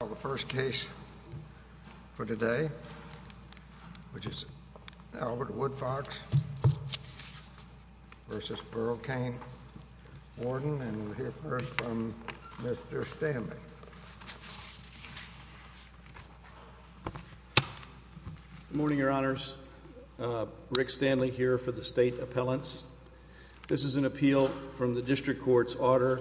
The first case for today, which is Albert Woodfox v. Burl Kane, Warden, and we'll hear first from Mr. Stanley. Good morning, Your Honors. Rick Stanley here for the State Appellants. This is an appeal from the District Court's order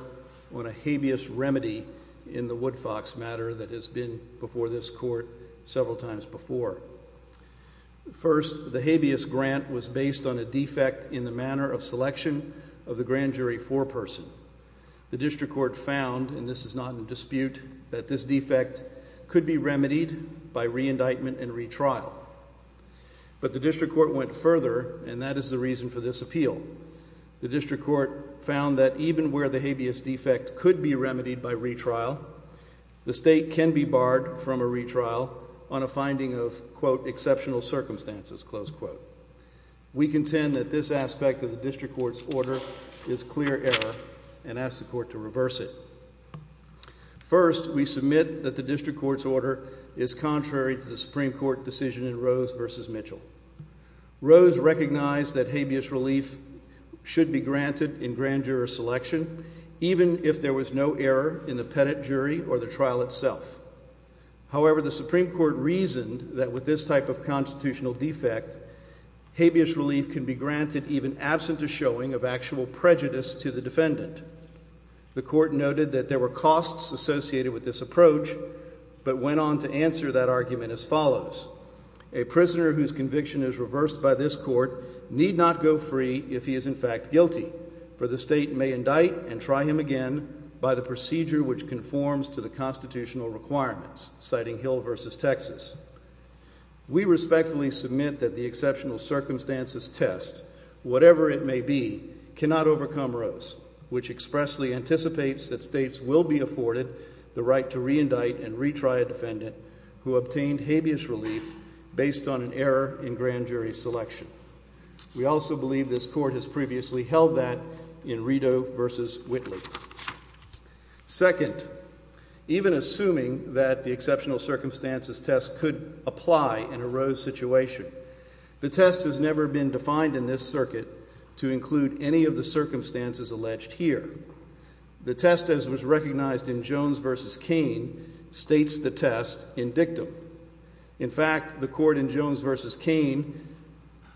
on a habeas remedy in the Woodfox matter that has been before this Court several times before. First, the habeas grant was based on a defect in the manner of selection of the grand jury foreperson. The District Court found, and this is not in dispute, that this defect could be remedied by re-indictment and retrial. But the District Court went further, and that is the reason for this appeal. The District Court found that even where the habeas defect could be remedied by retrial, the State can be barred from a retrial on a finding of, quote, exceptional circumstances, close quote. We contend that this aspect of the District Court's order is clear error and ask the Court to reverse it. First, we submit that the District Court's order is contrary to the Supreme Court decision in Rose v. Mitchell. Rose recognized that habeas relief should be granted in grand juror selection, even if there was no error in the pettit jury or the trial itself. However, the Supreme Court reasoned that with this type of constitutional defect, habeas relief can be granted even absent a showing of actual prejudice to the defendant. The Court noted that there were costs associated with this approach, but went on to answer that argument as follows. A prisoner whose conviction is reversed by this Court need not go free if he is in fact guilty, for the State may indict and try him again by the procedure which conforms to the constitutional requirements, citing Hill v. Texas. We respectfully submit that the exceptional circumstances test, whatever it may be, cannot overcome Rose, which expressly anticipates that States will be afforded the right to reindict and retry a defendant who obtained habeas relief based on an error in grand jury selection. We also believe this Court has previously held that in Rideau v. Whitley. Second, even assuming that the exceptional circumstances test could apply in a Rose situation, the test has never been defined in this circuit to include any of the circumstances alleged here. The test as was recognized in Jones v. Cain states the test in dictum. In fact, the Court in Jones v. Cain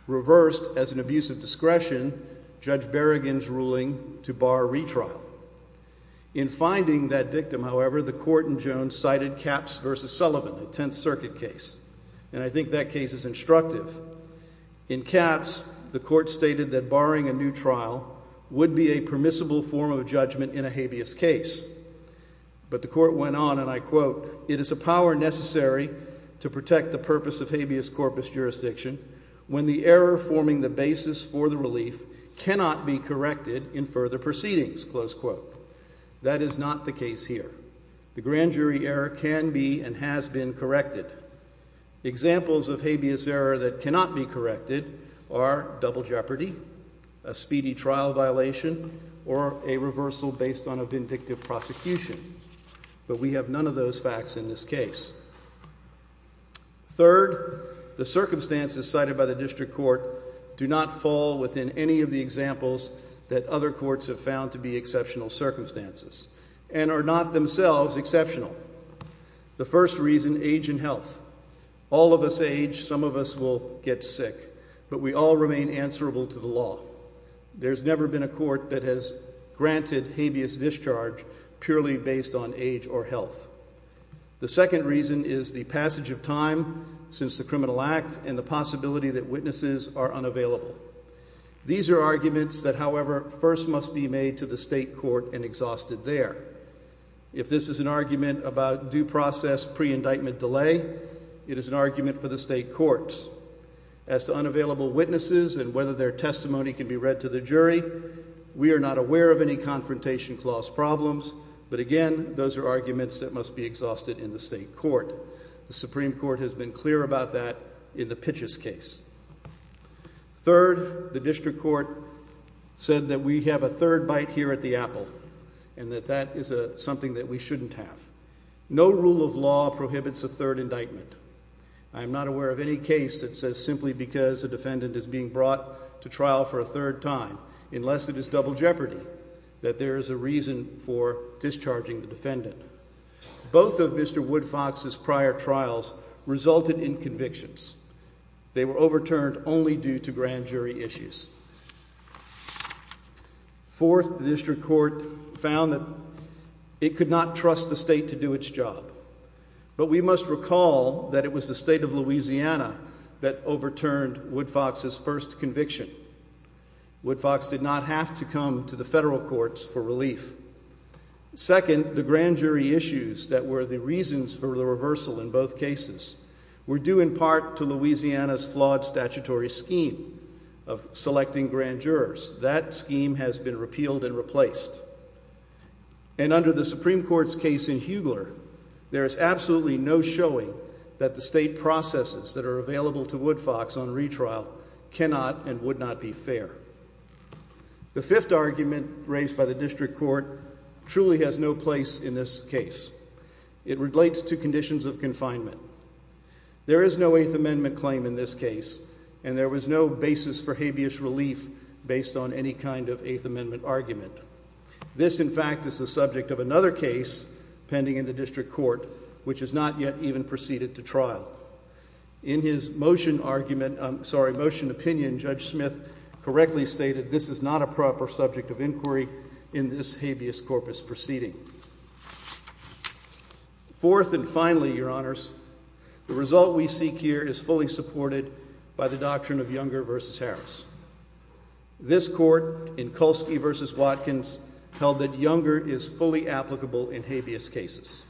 reversed, as an abuse of discretion, Judge Berrigan's ruling to bar retrial. In finding that dictum, however, the Court in Jones cited Capps v. Sullivan, a Tenth Circuit case, and I think that case is instructive. In Capps, the Court stated that barring a new trial would be a permissible form of judgment in a habeas case. But the Court went on, and I quote, It is a power necessary to protect the purpose of habeas corpus jurisdiction when the error forming the basis for the relief cannot be corrected in further proceedings. That is not the case here. The grand jury error can be and has been corrected. Examples of habeas error that cannot be corrected are double jeopardy, a speedy trial violation, or a reversal based on a vindictive prosecution. But we have none of those facts in this case. Third, the circumstances cited by the District Court do not fall within any of the examples that other courts have found to be exceptional circumstances, and are not themselves exceptional. The first reason, age and health. All of us age, some of us will get sick, but we all remain answerable to the law. There's never been a court that has granted habeas discharge purely based on age or health. The second reason is the passage of time since the criminal act and the possibility that witnesses are unavailable. These are arguments that, however, first must be made to the State Court and exhausted there. If this is an argument about due process pre-indictment delay, it is an argument for the State Courts. As to unavailable witnesses and whether their testimony can be read to the jury, we are not aware of any confrontation clause problems. But again, those are arguments that must be exhausted in the State Court. The Supreme Court has been clear about that in the Pitches case. Third, the District Court said that we have a third bite here at the apple, and that that is something that we shouldn't have. No rule of law prohibits a third indictment. I am not aware of any case that says simply because a defendant is being brought to trial for a third time, unless it is double jeopardy, that there is a reason for discharging the defendant. Both of Mr. Woodfox's prior trials resulted in convictions. They were overturned only due to grand jury issues. Fourth, the District Court found that it could not trust the State to do its job. But we must recall that it was the State of Louisiana that overturned Woodfox's first conviction. Woodfox did not have to come to the federal courts for relief. Second, the grand jury issues that were the reasons for the reversal in both cases were due in part to Louisiana's flawed statutory scheme of selecting grand jurors. That scheme has been repealed and replaced. And under the Supreme Court's case in Hugler, there is absolutely no showing that the State processes that are available to Woodfox on retrial cannot and would not be fair. The fifth argument raised by the District Court truly has no place in this case. It relates to conditions of confinement. There is no Eighth Amendment claim in this case, and there was no basis for habeas relief based on any kind of Eighth Amendment argument. This, in fact, is the subject of another case pending in the District Court, which has not yet even proceeded to trial. In his motion opinion, Judge Smith correctly stated this is not a proper subject of inquiry in this habeas corpus proceeding. Fourth and finally, Your Honors, the result we seek here is fully supported by the doctrine of Younger v. Harris. This court in Kulski v. Watkins held that Younger is fully applicable in habeas cases.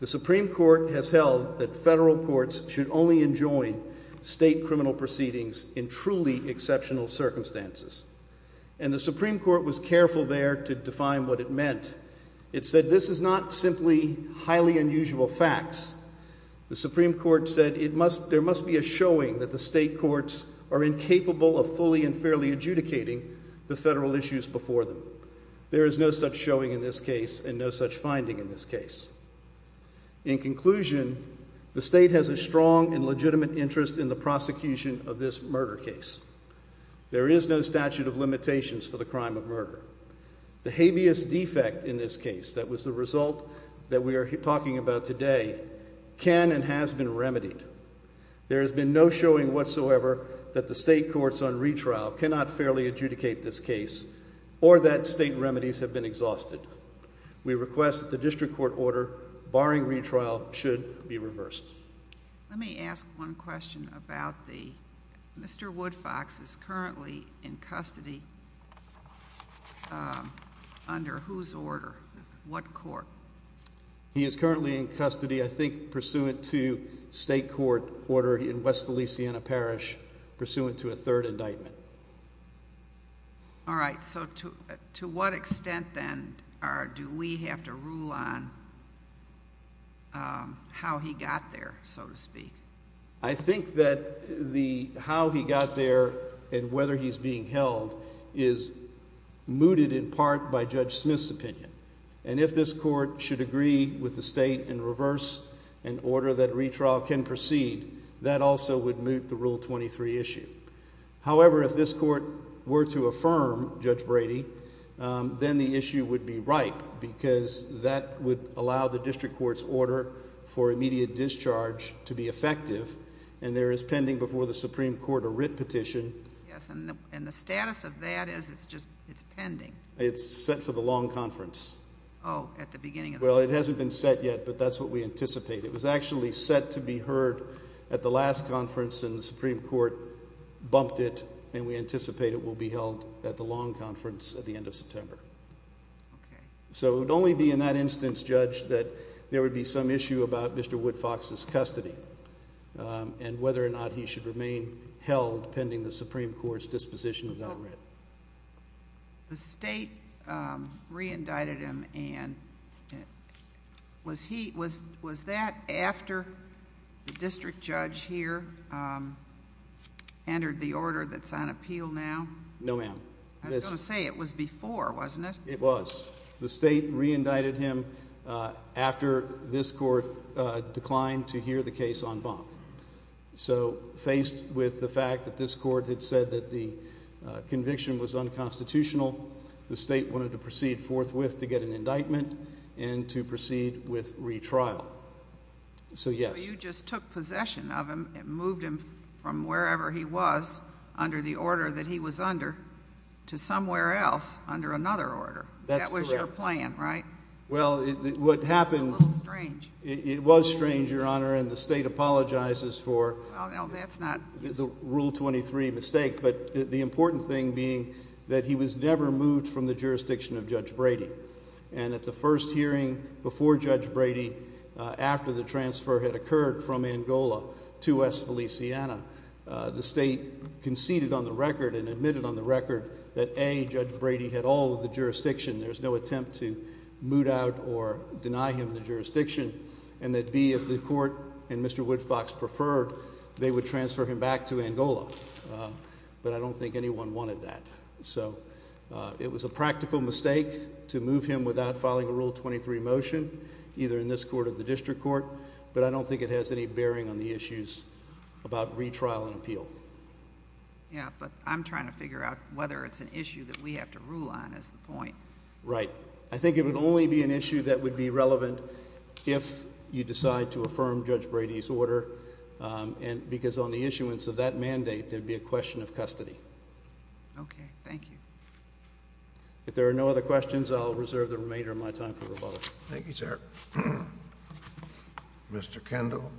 The Supreme Court has held that federal courts should only enjoin state criminal proceedings in truly exceptional circumstances. And the Supreme Court was careful there to define what it meant. It said this is not simply highly unusual facts. The Supreme Court said there must be a showing that the state courts are incapable of fully and fairly adjudicating the federal issues before them. There is no such showing in this case and no such finding in this case. In conclusion, the state has a strong and legitimate interest in the prosecution of this murder case. There is no statute of limitations for the crime of murder. The habeas defect in this case that was the result that we are talking about today can and has been remedied. There has been no showing whatsoever that the state courts on retrial cannot fairly adjudicate this case or that state remedies have been exhausted. We request that the district court order barring retrial should be reversed. Let me ask one question about the Mr. Woodfox is currently in custody under whose order? What court? He is currently in custody I think pursuant to state court order in West Feliciana Parish pursuant to a third indictment. All right. So to what extent then do we have to rule on how he got there, so to speak? I think that the how he got there and whether he's being held is mooted in part by Judge Smith's opinion. And if this court should agree with the state and reverse an order that retrial can proceed, that also would moot the Rule 23 issue. However, if this court were to affirm, Judge Brady, then the issue would be right because that would allow the district court's order for immediate discharge to be effective and there is pending before the Supreme Court a writ petition. Yes, and the status of that is it's just it's pending. It's set for the long conference. Oh, at the beginning. Well, it hasn't been set yet, but that's what we anticipate. It was actually set to be heard at the last conference and the Supreme Court bumped it and we anticipate it will be held at the long conference at the end of September. Okay. So it would only be in that instance, Judge, that there would be some issue about Mr. Woodfox's custody and whether or not he should remain held pending the Supreme Court's disposition of that writ. The state re-indicted him and was that after the district judge here entered the order that's on appeal now? No, ma'am. I was going to say it was before, wasn't it? It was. The state re-indicted him after this court declined to hear the case on bump. So faced with the fact that this court had said that the conviction was unconstitutional, the state wanted to proceed forthwith to get an indictment and to proceed with retrial. So, yes. You just took possession of him and moved him from wherever he was under the order that he was under to somewhere else under another order. That's correct. That was your plan, right? Well, what happened— That's a little strange. It was strange, Your Honor, and the state apologizes for the Rule 23 mistake, but the important thing being that he was never moved from the jurisdiction of Judge Brady. And at the first hearing before Judge Brady, after the transfer had occurred from Angola to West Feliciana, the state conceded on the record and admitted on the record that, A, Judge Brady had all of the jurisdiction. There's no attempt to moot out or deny him the jurisdiction, and that, B, if the court and Mr. Woodfox preferred, they would transfer him back to Angola. But I don't think anyone wanted that. So it was a practical mistake to move him without filing a Rule 23 motion, either in this court or the district court, but I don't think it has any bearing on the issues about retrial and appeal. Yeah, but I'm trying to figure out whether it's an issue that we have to rule on is the point. Right. I think it would only be an issue that would be relevant if you decide to affirm Judge Brady's order, because on the issuance of that mandate, there would be a question of custody. Okay. Thank you. If there are no other questions, I'll reserve the remainder of my time for rebuttal. Thank you, sir. Mr. Kendall.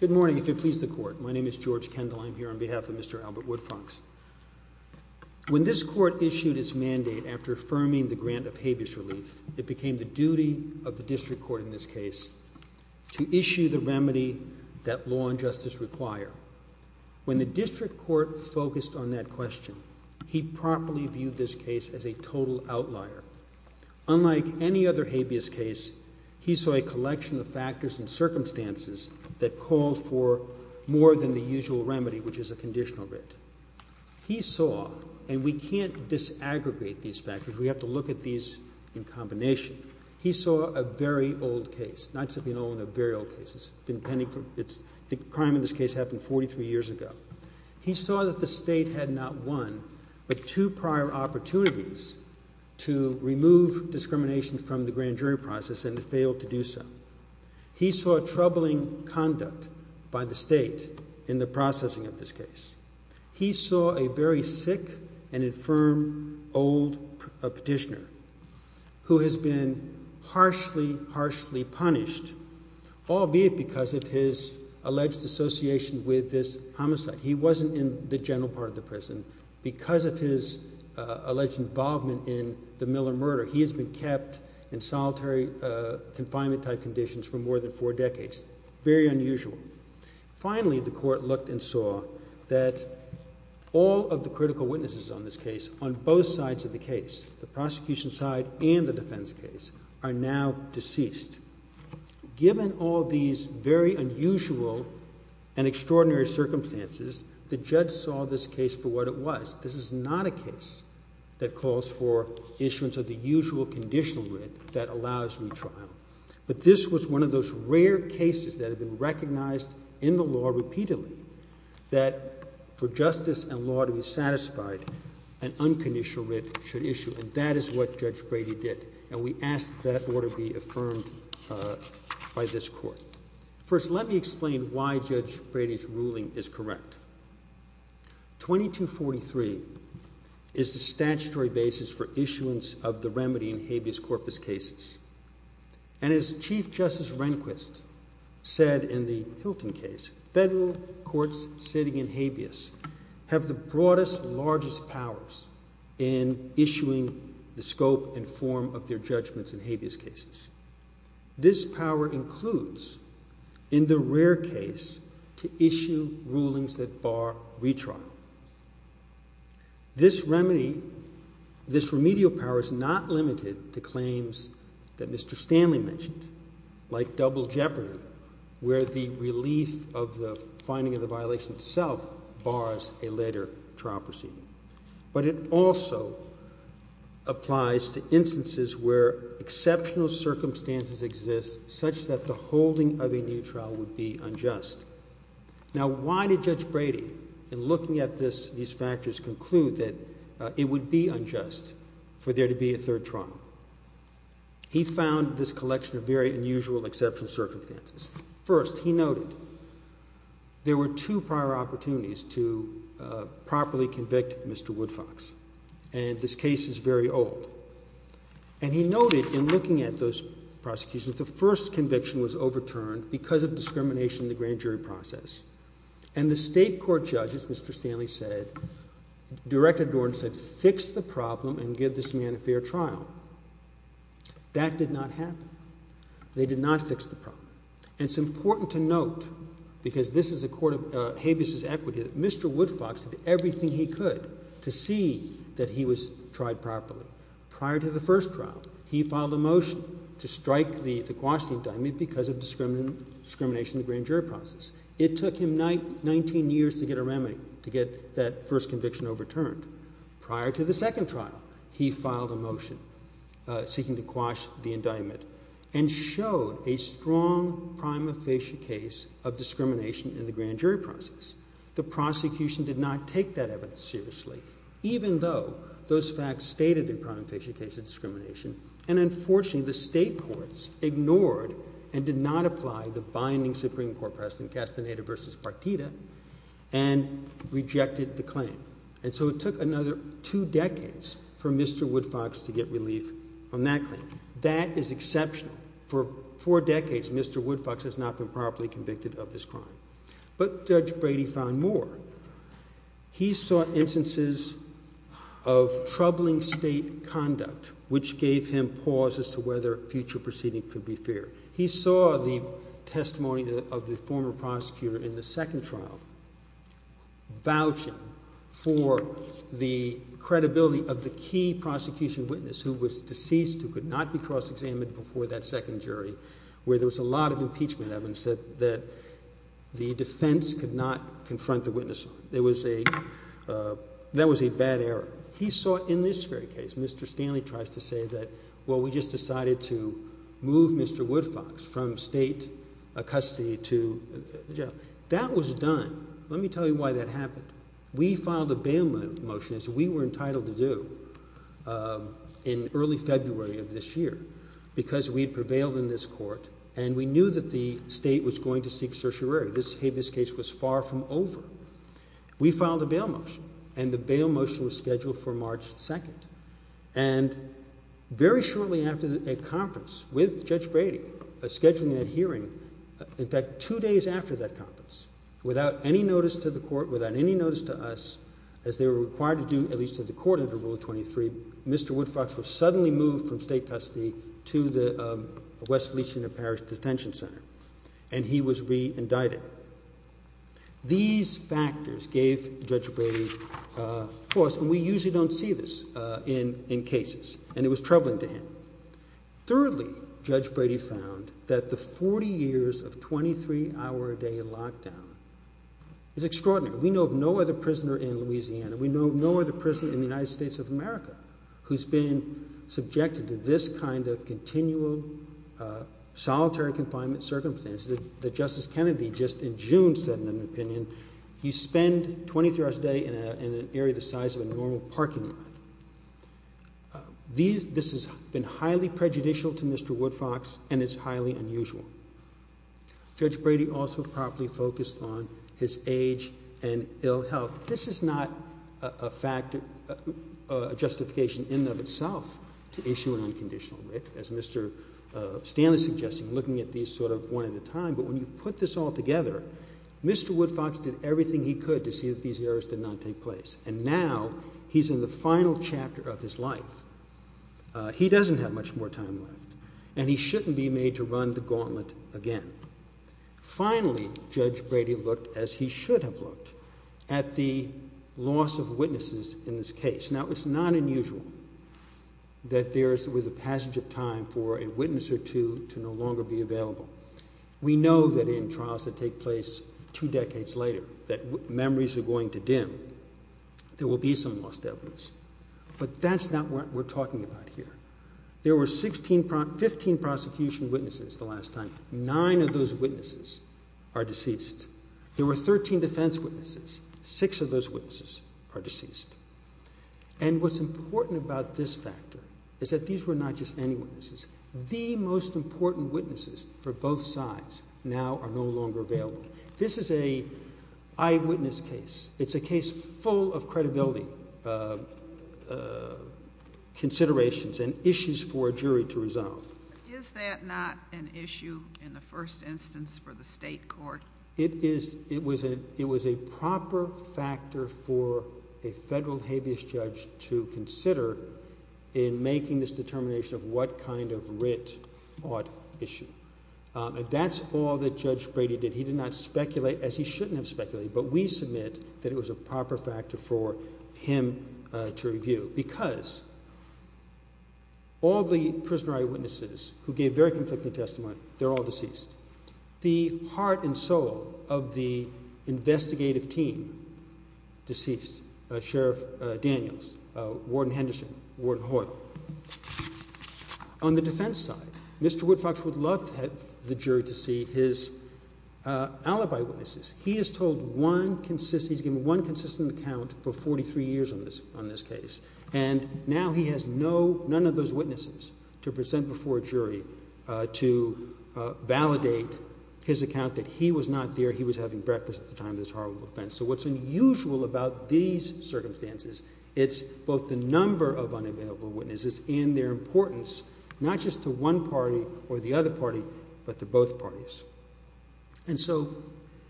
Good morning, if you'll please the court. My name is George Kendall. I'm here on behalf of Mr. Albert Woodfox. When this court issued its mandate after affirming the grant of habeas relief, it became the duty of the district court in this case to issue the remedy that law and justice require. When the district court focused on that question, he properly viewed this case as a total outlier. Unlike any other habeas case, he saw a collection of factors and circumstances that called for more than the usual remedy, which is a conditional writ. He saw, and we can't disaggregate these factors. We have to look at these in combination. He saw a very old case. The crime in this case happened 43 years ago. He saw that the state had not one but two prior opportunities to remove discrimination from the grand jury process and failed to do so. He saw troubling conduct by the state in the processing of this case. He saw a very sick and infirm old petitioner who has been harshly, harshly punished, albeit because of his alleged association with this homicide. He wasn't in the general part of the prison. Because of his alleged involvement in the Miller murder, he has been kept in solitary confinement-type conditions for more than four decades. Very unusual. Finally, the court looked and saw that all of the critical witnesses on this case, on both sides of the case, the prosecution side and the defense case, are now deceased. Given all these very unusual and extraordinary circumstances, the judge saw this case for what it was. This is not a case that calls for issuance of the usual conditional writ that allows retrial. But this was one of those rare cases that had been recognized in the law repeatedly that for justice and law to be satisfied, an unconditional writ should issue. And that is what Judge Brady did. And we ask that that order be affirmed by this court. First, let me explain why Judge Brady's ruling is correct. 2243 is the statutory basis for issuance of the remedy in habeas corpus cases. And as Chief Justice Rehnquist said in the Hilton case, federal courts sitting in habeas have the broadest, largest powers in issuing the scope and form of their judgments in habeas cases. This power includes, in the rare case, to issue rulings that bar retrial. This remedial power is not limited to claims that Mr. Stanley mentioned, like double jeopardy, where the relief of the finding of the violation itself bars a later trial proceeding. But it also applies to instances where exceptional circumstances exist such that the holding of a new trial would be unjust. Now, why did Judge Brady, in looking at these factors, conclude that it would be unjust for there to be a third trial? He found this collection of very unusual exceptional circumstances. First, he noted there were two prior opportunities to properly convict Mr. Woodfox. And this case is very old. And he noted, in looking at those prosecutions, that the first conviction was overturned because of discrimination in the grand jury process. And the state court judges, Mr. Stanley said, Director Dorn said, fix the problem and give this man a fair trial. That did not happen. They did not fix the problem. And it's important to note, because this is a court of habeas' equity, that Mr. Woodfox did everything he could to see that he was tried properly. Prior to the first trial, he filed a motion to strike the quash indictment because of discrimination in the grand jury process. It took him 19 years to get a remedy, to get that first conviction overturned. Prior to the second trial, he filed a motion seeking to quash the indictment and showed a strong prima facie case of discrimination in the grand jury process. The prosecution did not take that evidence seriously, even though those facts stated a prima facie case of discrimination. And unfortunately, the state courts ignored and did not apply the binding Supreme Court precedent, Castaneda v. Partita, and rejected the claim. And so it took another two decades for Mr. Woodfox to get relief on that claim. That is exceptional. For four decades, Mr. Woodfox has not been properly convicted of this crime. But Judge Brady found more. He saw instances of troubling state conduct, which gave him pause as to whether future proceeding could be fair. He saw the testimony of the former prosecutor in the second trial vouching for the credibility of the key prosecution witness who was deceased, who could not be cross-examined before that second jury, where there was a lot of impeachment evidence that the defense could not confront the witness on. That was a bad error. He saw in this very case, Mr. Stanley tries to say that, well, we just decided to move Mr. Woodfox from state custody to jail. That was done. Let me tell you why that happened. We filed a bail motion, as we were entitled to do, in early February of this year because we had prevailed in this court and we knew that the state was going to seek certiorari. This case was far from over. We filed a bail motion, and the bail motion was scheduled for March 2nd. And very shortly after a conference with Judge Brady, scheduling that hearing, in fact, two days after that conference, without any notice to the court, without any notice to us, as they were required to do, at least to the court under Rule 23, Mr. Woodfox was suddenly moved from state custody to the West Feliciana Parish Detention Center, and he was re-indicted. These factors gave Judge Brady pause, and we usually don't see this in cases, and it was troubling to him. Thirdly, Judge Brady found that the 40 years of 23-hour-a-day lockdown is extraordinary. We know of no other prisoner in Louisiana. We know of no other prisoner in the United States of America who's been subjected to this kind of continual solitary confinement circumstances. Justice Kennedy just in June said in an opinion, you spend 23-hours-a-day in an area the size of a normal parking lot. This has been highly prejudicial to Mr. Woodfox, and it's highly unusual. Judge Brady also probably focused on his age and ill health. Now, this is not a justification in and of itself to issue an unconditional writ, as Mr. Stanley is suggesting, looking at these sort of one at a time, but when you put this all together, Mr. Woodfox did everything he could to see that these errors did not take place, and now he's in the final chapter of his life. He doesn't have much more time left, and he shouldn't be made to run the gauntlet again. Finally, Judge Brady looked as he should have looked at the loss of witnesses in this case. Now, it's not unusual that there is a passage of time for a witness or two to no longer be available. We know that in trials that take place two decades later, that memories are going to dim, there will be some lost evidence, but that's not what we're talking about here. There were 15 prosecution witnesses the last time. Nine of those witnesses are deceased. There were 13 defense witnesses. Six of those witnesses are deceased. And what's important about this factor is that these were not just any witnesses. The most important witnesses for both sides now are no longer available. This is an eyewitness case. It's a case full of credibility, considerations, and issues for a jury to resolve. Is that not an issue in the first instance for the state court? It is. It was a proper factor for a federal habeas judge to consider in making this determination of what kind of writ ought issued. That's all that Judge Brady did. He did not speculate, as he shouldn't have speculated, but we submit that it was a proper factor for him to review because all the prisoner eyewitnesses who gave very conflicting testimony, they're all deceased. The heart and soul of the investigative team, deceased, Sheriff Daniels, Warden Henderson, Warden Hoyle. On the defense side, Mr. Woodfox would love the jury to see his alibi witnesses. He has told one consistent account for 43 years on this case, and now he has none of those witnesses to present before a jury to validate his account that he was not there, he was having breakfast at the time of this horrible offense. So what's unusual about these circumstances, it's both the number of unavailable witnesses and their importance, not just to one party or the other party, but to both parties. And so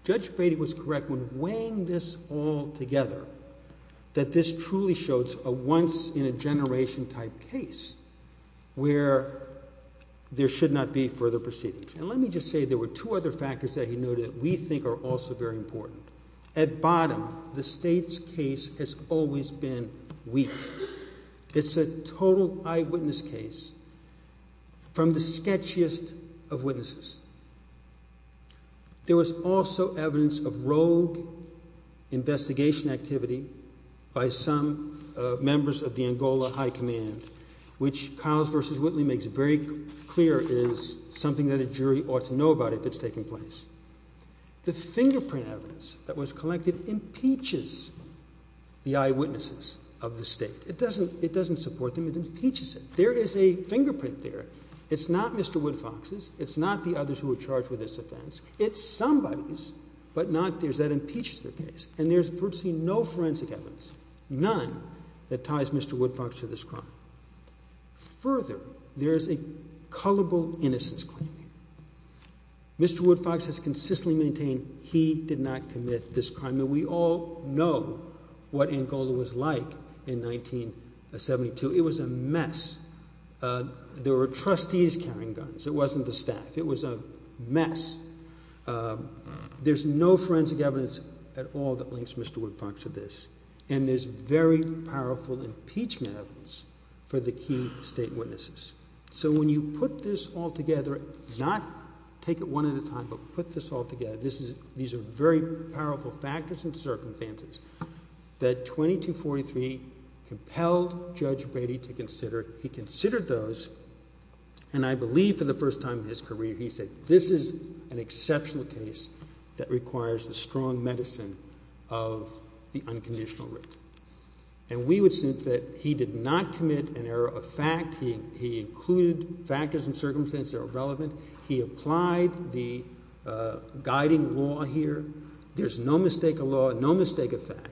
Judge Brady was correct when weighing this all together, that this truly shows a once-in-a-generation type case where there should not be further proceedings. And let me just say there were two other factors that he noted that we think are also very important. At bottom, the state's case has always been weak. It's a total eyewitness case from the sketchiest of witnesses. There was also evidence of rogue investigation activity by some members of the Angola High Command, which Powers v. Whitley makes very clear is something that a jury ought to know about if it's taking place. The fingerprint evidence that was collected impeaches the eyewitnesses of the state. It doesn't support them, it impeaches them. There is a fingerprint there. It's not Mr. Woodfox's, it's not the others who were charged with this offense. It's somebody's, but not theirs. That impeaches their case. And there's virtually no forensic evidence, none, that ties Mr. Woodfox to this crime. Further, there is a culpable innocence claim. Mr. Woodfox has consistently maintained he did not commit this crime. And we all know what Angola was like in 1972. It was a mess. There were trustees carrying guns. It wasn't the staff. It was a mess. There's no forensic evidence at all that links Mr. Woodfox to this. And there's very powerful impeachment evidence for the key state witnesses. So when you put this all together, not take it one at a time, but put this all together, these are very powerful factors and circumstances that 2243 compelled Judge Brady to consider. He considered those, and I believe for the first time in his career he said, this is an exceptional case that requires the strong medicine of the unconditional writ. And we would think that he did not commit an error of fact. He included factors and circumstances that are relevant. He applied the guiding law here. There's no mistake of law, no mistake of fact.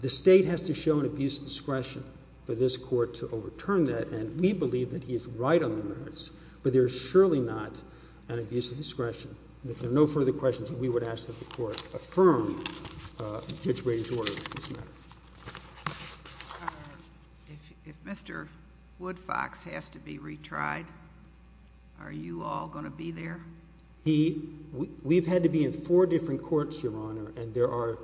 The state has to show an abuse of discretion for this court to overturn that, and we believe that he is right on the merits. But there is surely not an abuse of discretion. And if there are no further questions, we would ask that the court affirm Judge Brady's order on this matter. If Mr. Woodfox has to be retried, are you all going to be there? We've had to be in four different courts, Your Honor, and there are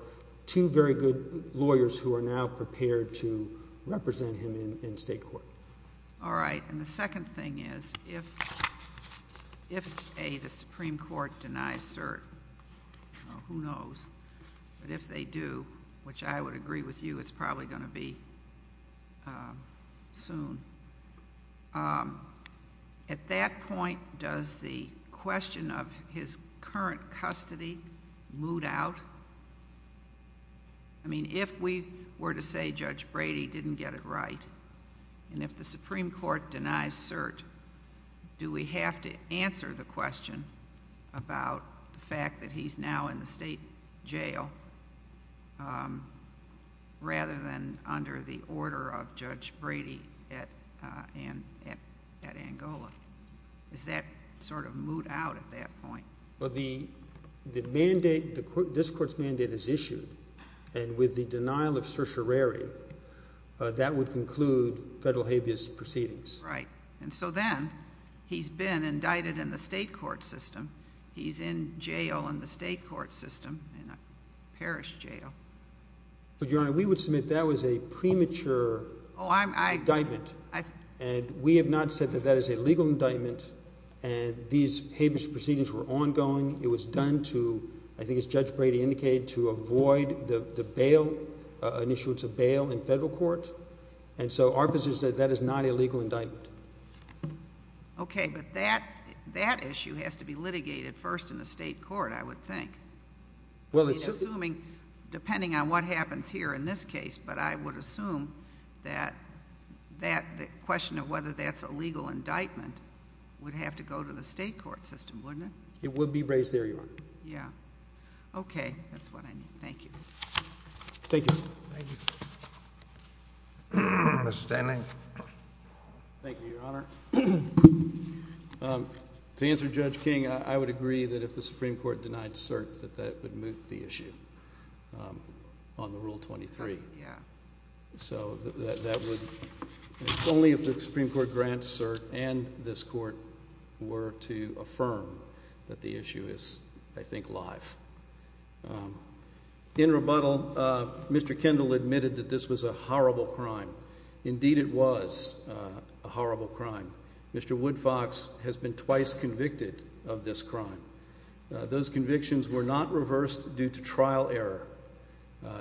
two very good lawyers who are now prepared to represent him in state court. All right. And the second thing is if, A, the Supreme Court denies cert, who knows, but if they do, which I would agree with you, it's probably going to be soon, at that point, does the question of his current custody mood out? I mean, if we were to say Judge Brady didn't get it right, and if the Supreme Court denies cert, do we have to answer the question about the fact that he's now in the state jail rather than under the order of Judge Brady at Angola? Does that sort of mood out at that point? Well, the mandate, this court's mandate is issued, and with the denial of certiorari, that would conclude federal habeas proceedings. Right. And so then he's been indicted in the state court system. He's in jail in the state court system, in a parish jail. But, Your Honor, we would submit that was a premature indictment, and we have not said that that is a legal indictment, and these habeas proceedings were ongoing. It was done to, I think as Judge Brady indicated, to avoid the initial bail in federal court, and so our position is that that is not a legal indictment. Okay. But that issue has to be litigated first in the state court, I would think. Well, it's just— I mean, assuming, depending on what happens here in this case, but I would assume that the question of whether that's a legal indictment would have to go to the state court system, wouldn't it? It would be raised there, Your Honor. Yeah. Okay. That's what I need. Thank you. Thank you. Mr. Stanley. Thank you, Your Honor. To answer Judge King, I would agree that if the Supreme Court denied cert, that that would move the issue on the Rule 23. Yeah. So that would—only if the Supreme Court grants cert and this court were to affirm that the issue is, I think, live. In rebuttal, Mr. Kendall admitted that this was a horrible crime. Indeed, it was a horrible crime. Mr. Woodfox has been twice convicted of this crime. Those convictions were not reversed due to trial error,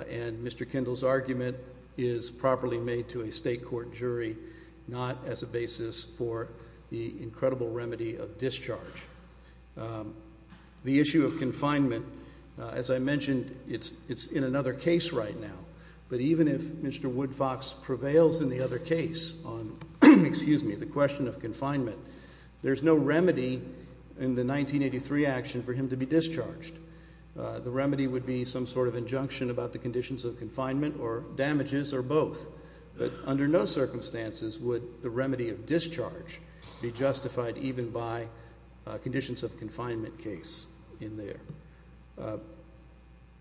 and Mr. Kendall's argument is properly made to a state court jury, not as a basis for the incredible remedy of discharge. The issue of confinement, as I mentioned, it's in another case right now. But even if Mr. Woodfox prevails in the other case on the question of confinement, there's no remedy in the 1983 action for him to be discharged. The remedy would be some sort of injunction about the conditions of confinement or damages or both. But under no circumstances would the remedy of discharge be justified even by conditions of confinement case in there.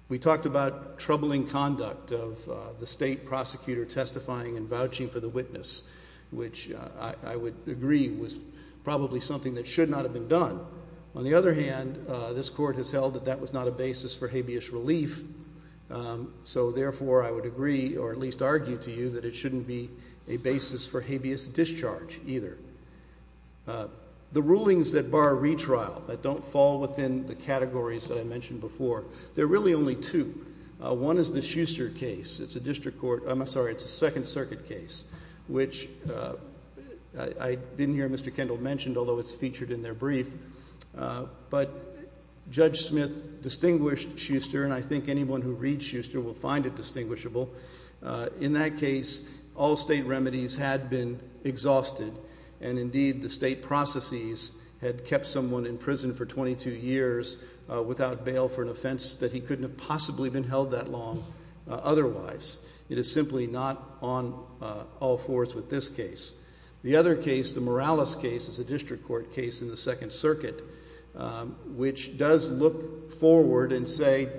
We talked about troubling conduct of the state prosecutor testifying and vouching for the witness, which I would agree was probably something that should not have been done. On the other hand, this court has held that that was not a basis for habeas relief. So therefore, I would agree or at least argue to you that it shouldn't be a basis for habeas discharge either. The rulings that bar retrial, that don't fall within the categories that I mentioned before, there are really only two. One is the Schuster case. It's a district court. I'm sorry, it's a Second Circuit case, which I didn't hear Mr. Kendall mention, although it's featured in their brief. But Judge Smith distinguished Schuster, and I think anyone who reads Schuster will find it distinguishable. In that case, all state remedies had been exhausted, and indeed the state processes had kept someone in prison for 22 years without bail for an offense that he couldn't have possibly been held that long otherwise. It is simply not on all fours with this case. The other case, the Morales case, is a district court case in the Second Circuit, which does look forward and say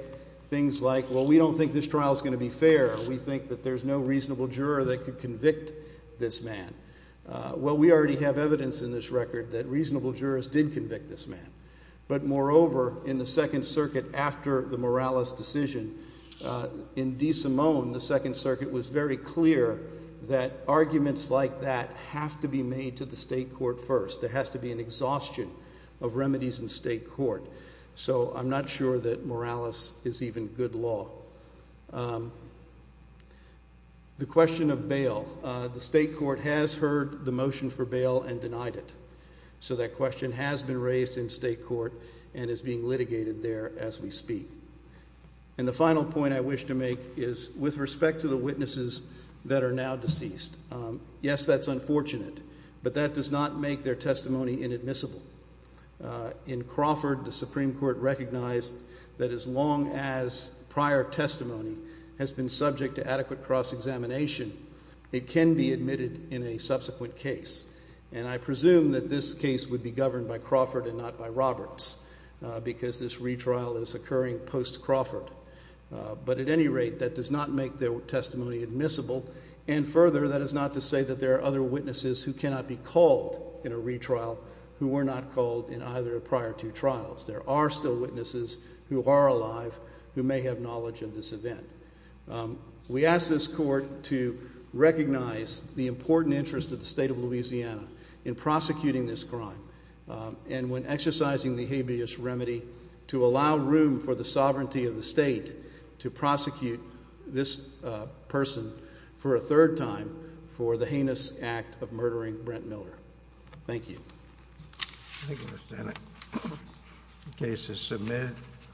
things like, well, we don't think this trial is going to be fair. We think that there's no reasonable juror that could convict this man. Well, we already have evidence in this record that reasonable jurors did convict this man. But moreover, in the Second Circuit after the Morales decision, in DeSimone, the Second Circuit was very clear that arguments like that have to be made to the state court first. There has to be an exhaustion of remedies in state court. So I'm not sure that Morales is even good law. The question of bail, the state court has heard the motion for bail and denied it. So that question has been raised in state court and is being litigated there as we speak. And the final point I wish to make is with respect to the witnesses that are now deceased, yes, that's unfortunate, but that does not make their testimony inadmissible. In Crawford, the Supreme Court recognized that as long as prior testimony has been subject to adequate cross-examination, it can be admitted in a subsequent case. And I presume that this case would be governed by Crawford and not by Roberts because this retrial is occurring post-Crawford. But at any rate, that does not make their testimony admissible. And further, that is not to say that there are other witnesses who cannot be called in a retrial who were not called in either of the prior two trials. There are still witnesses who are alive who may have knowledge of this event. We ask this court to recognize the important interest of the state of Louisiana in prosecuting this crime. And when exercising the habeas remedy, to allow room for the sovereignty of the state to prosecute this person for a third time for the heinous act of murdering Brent Miller. Thank you.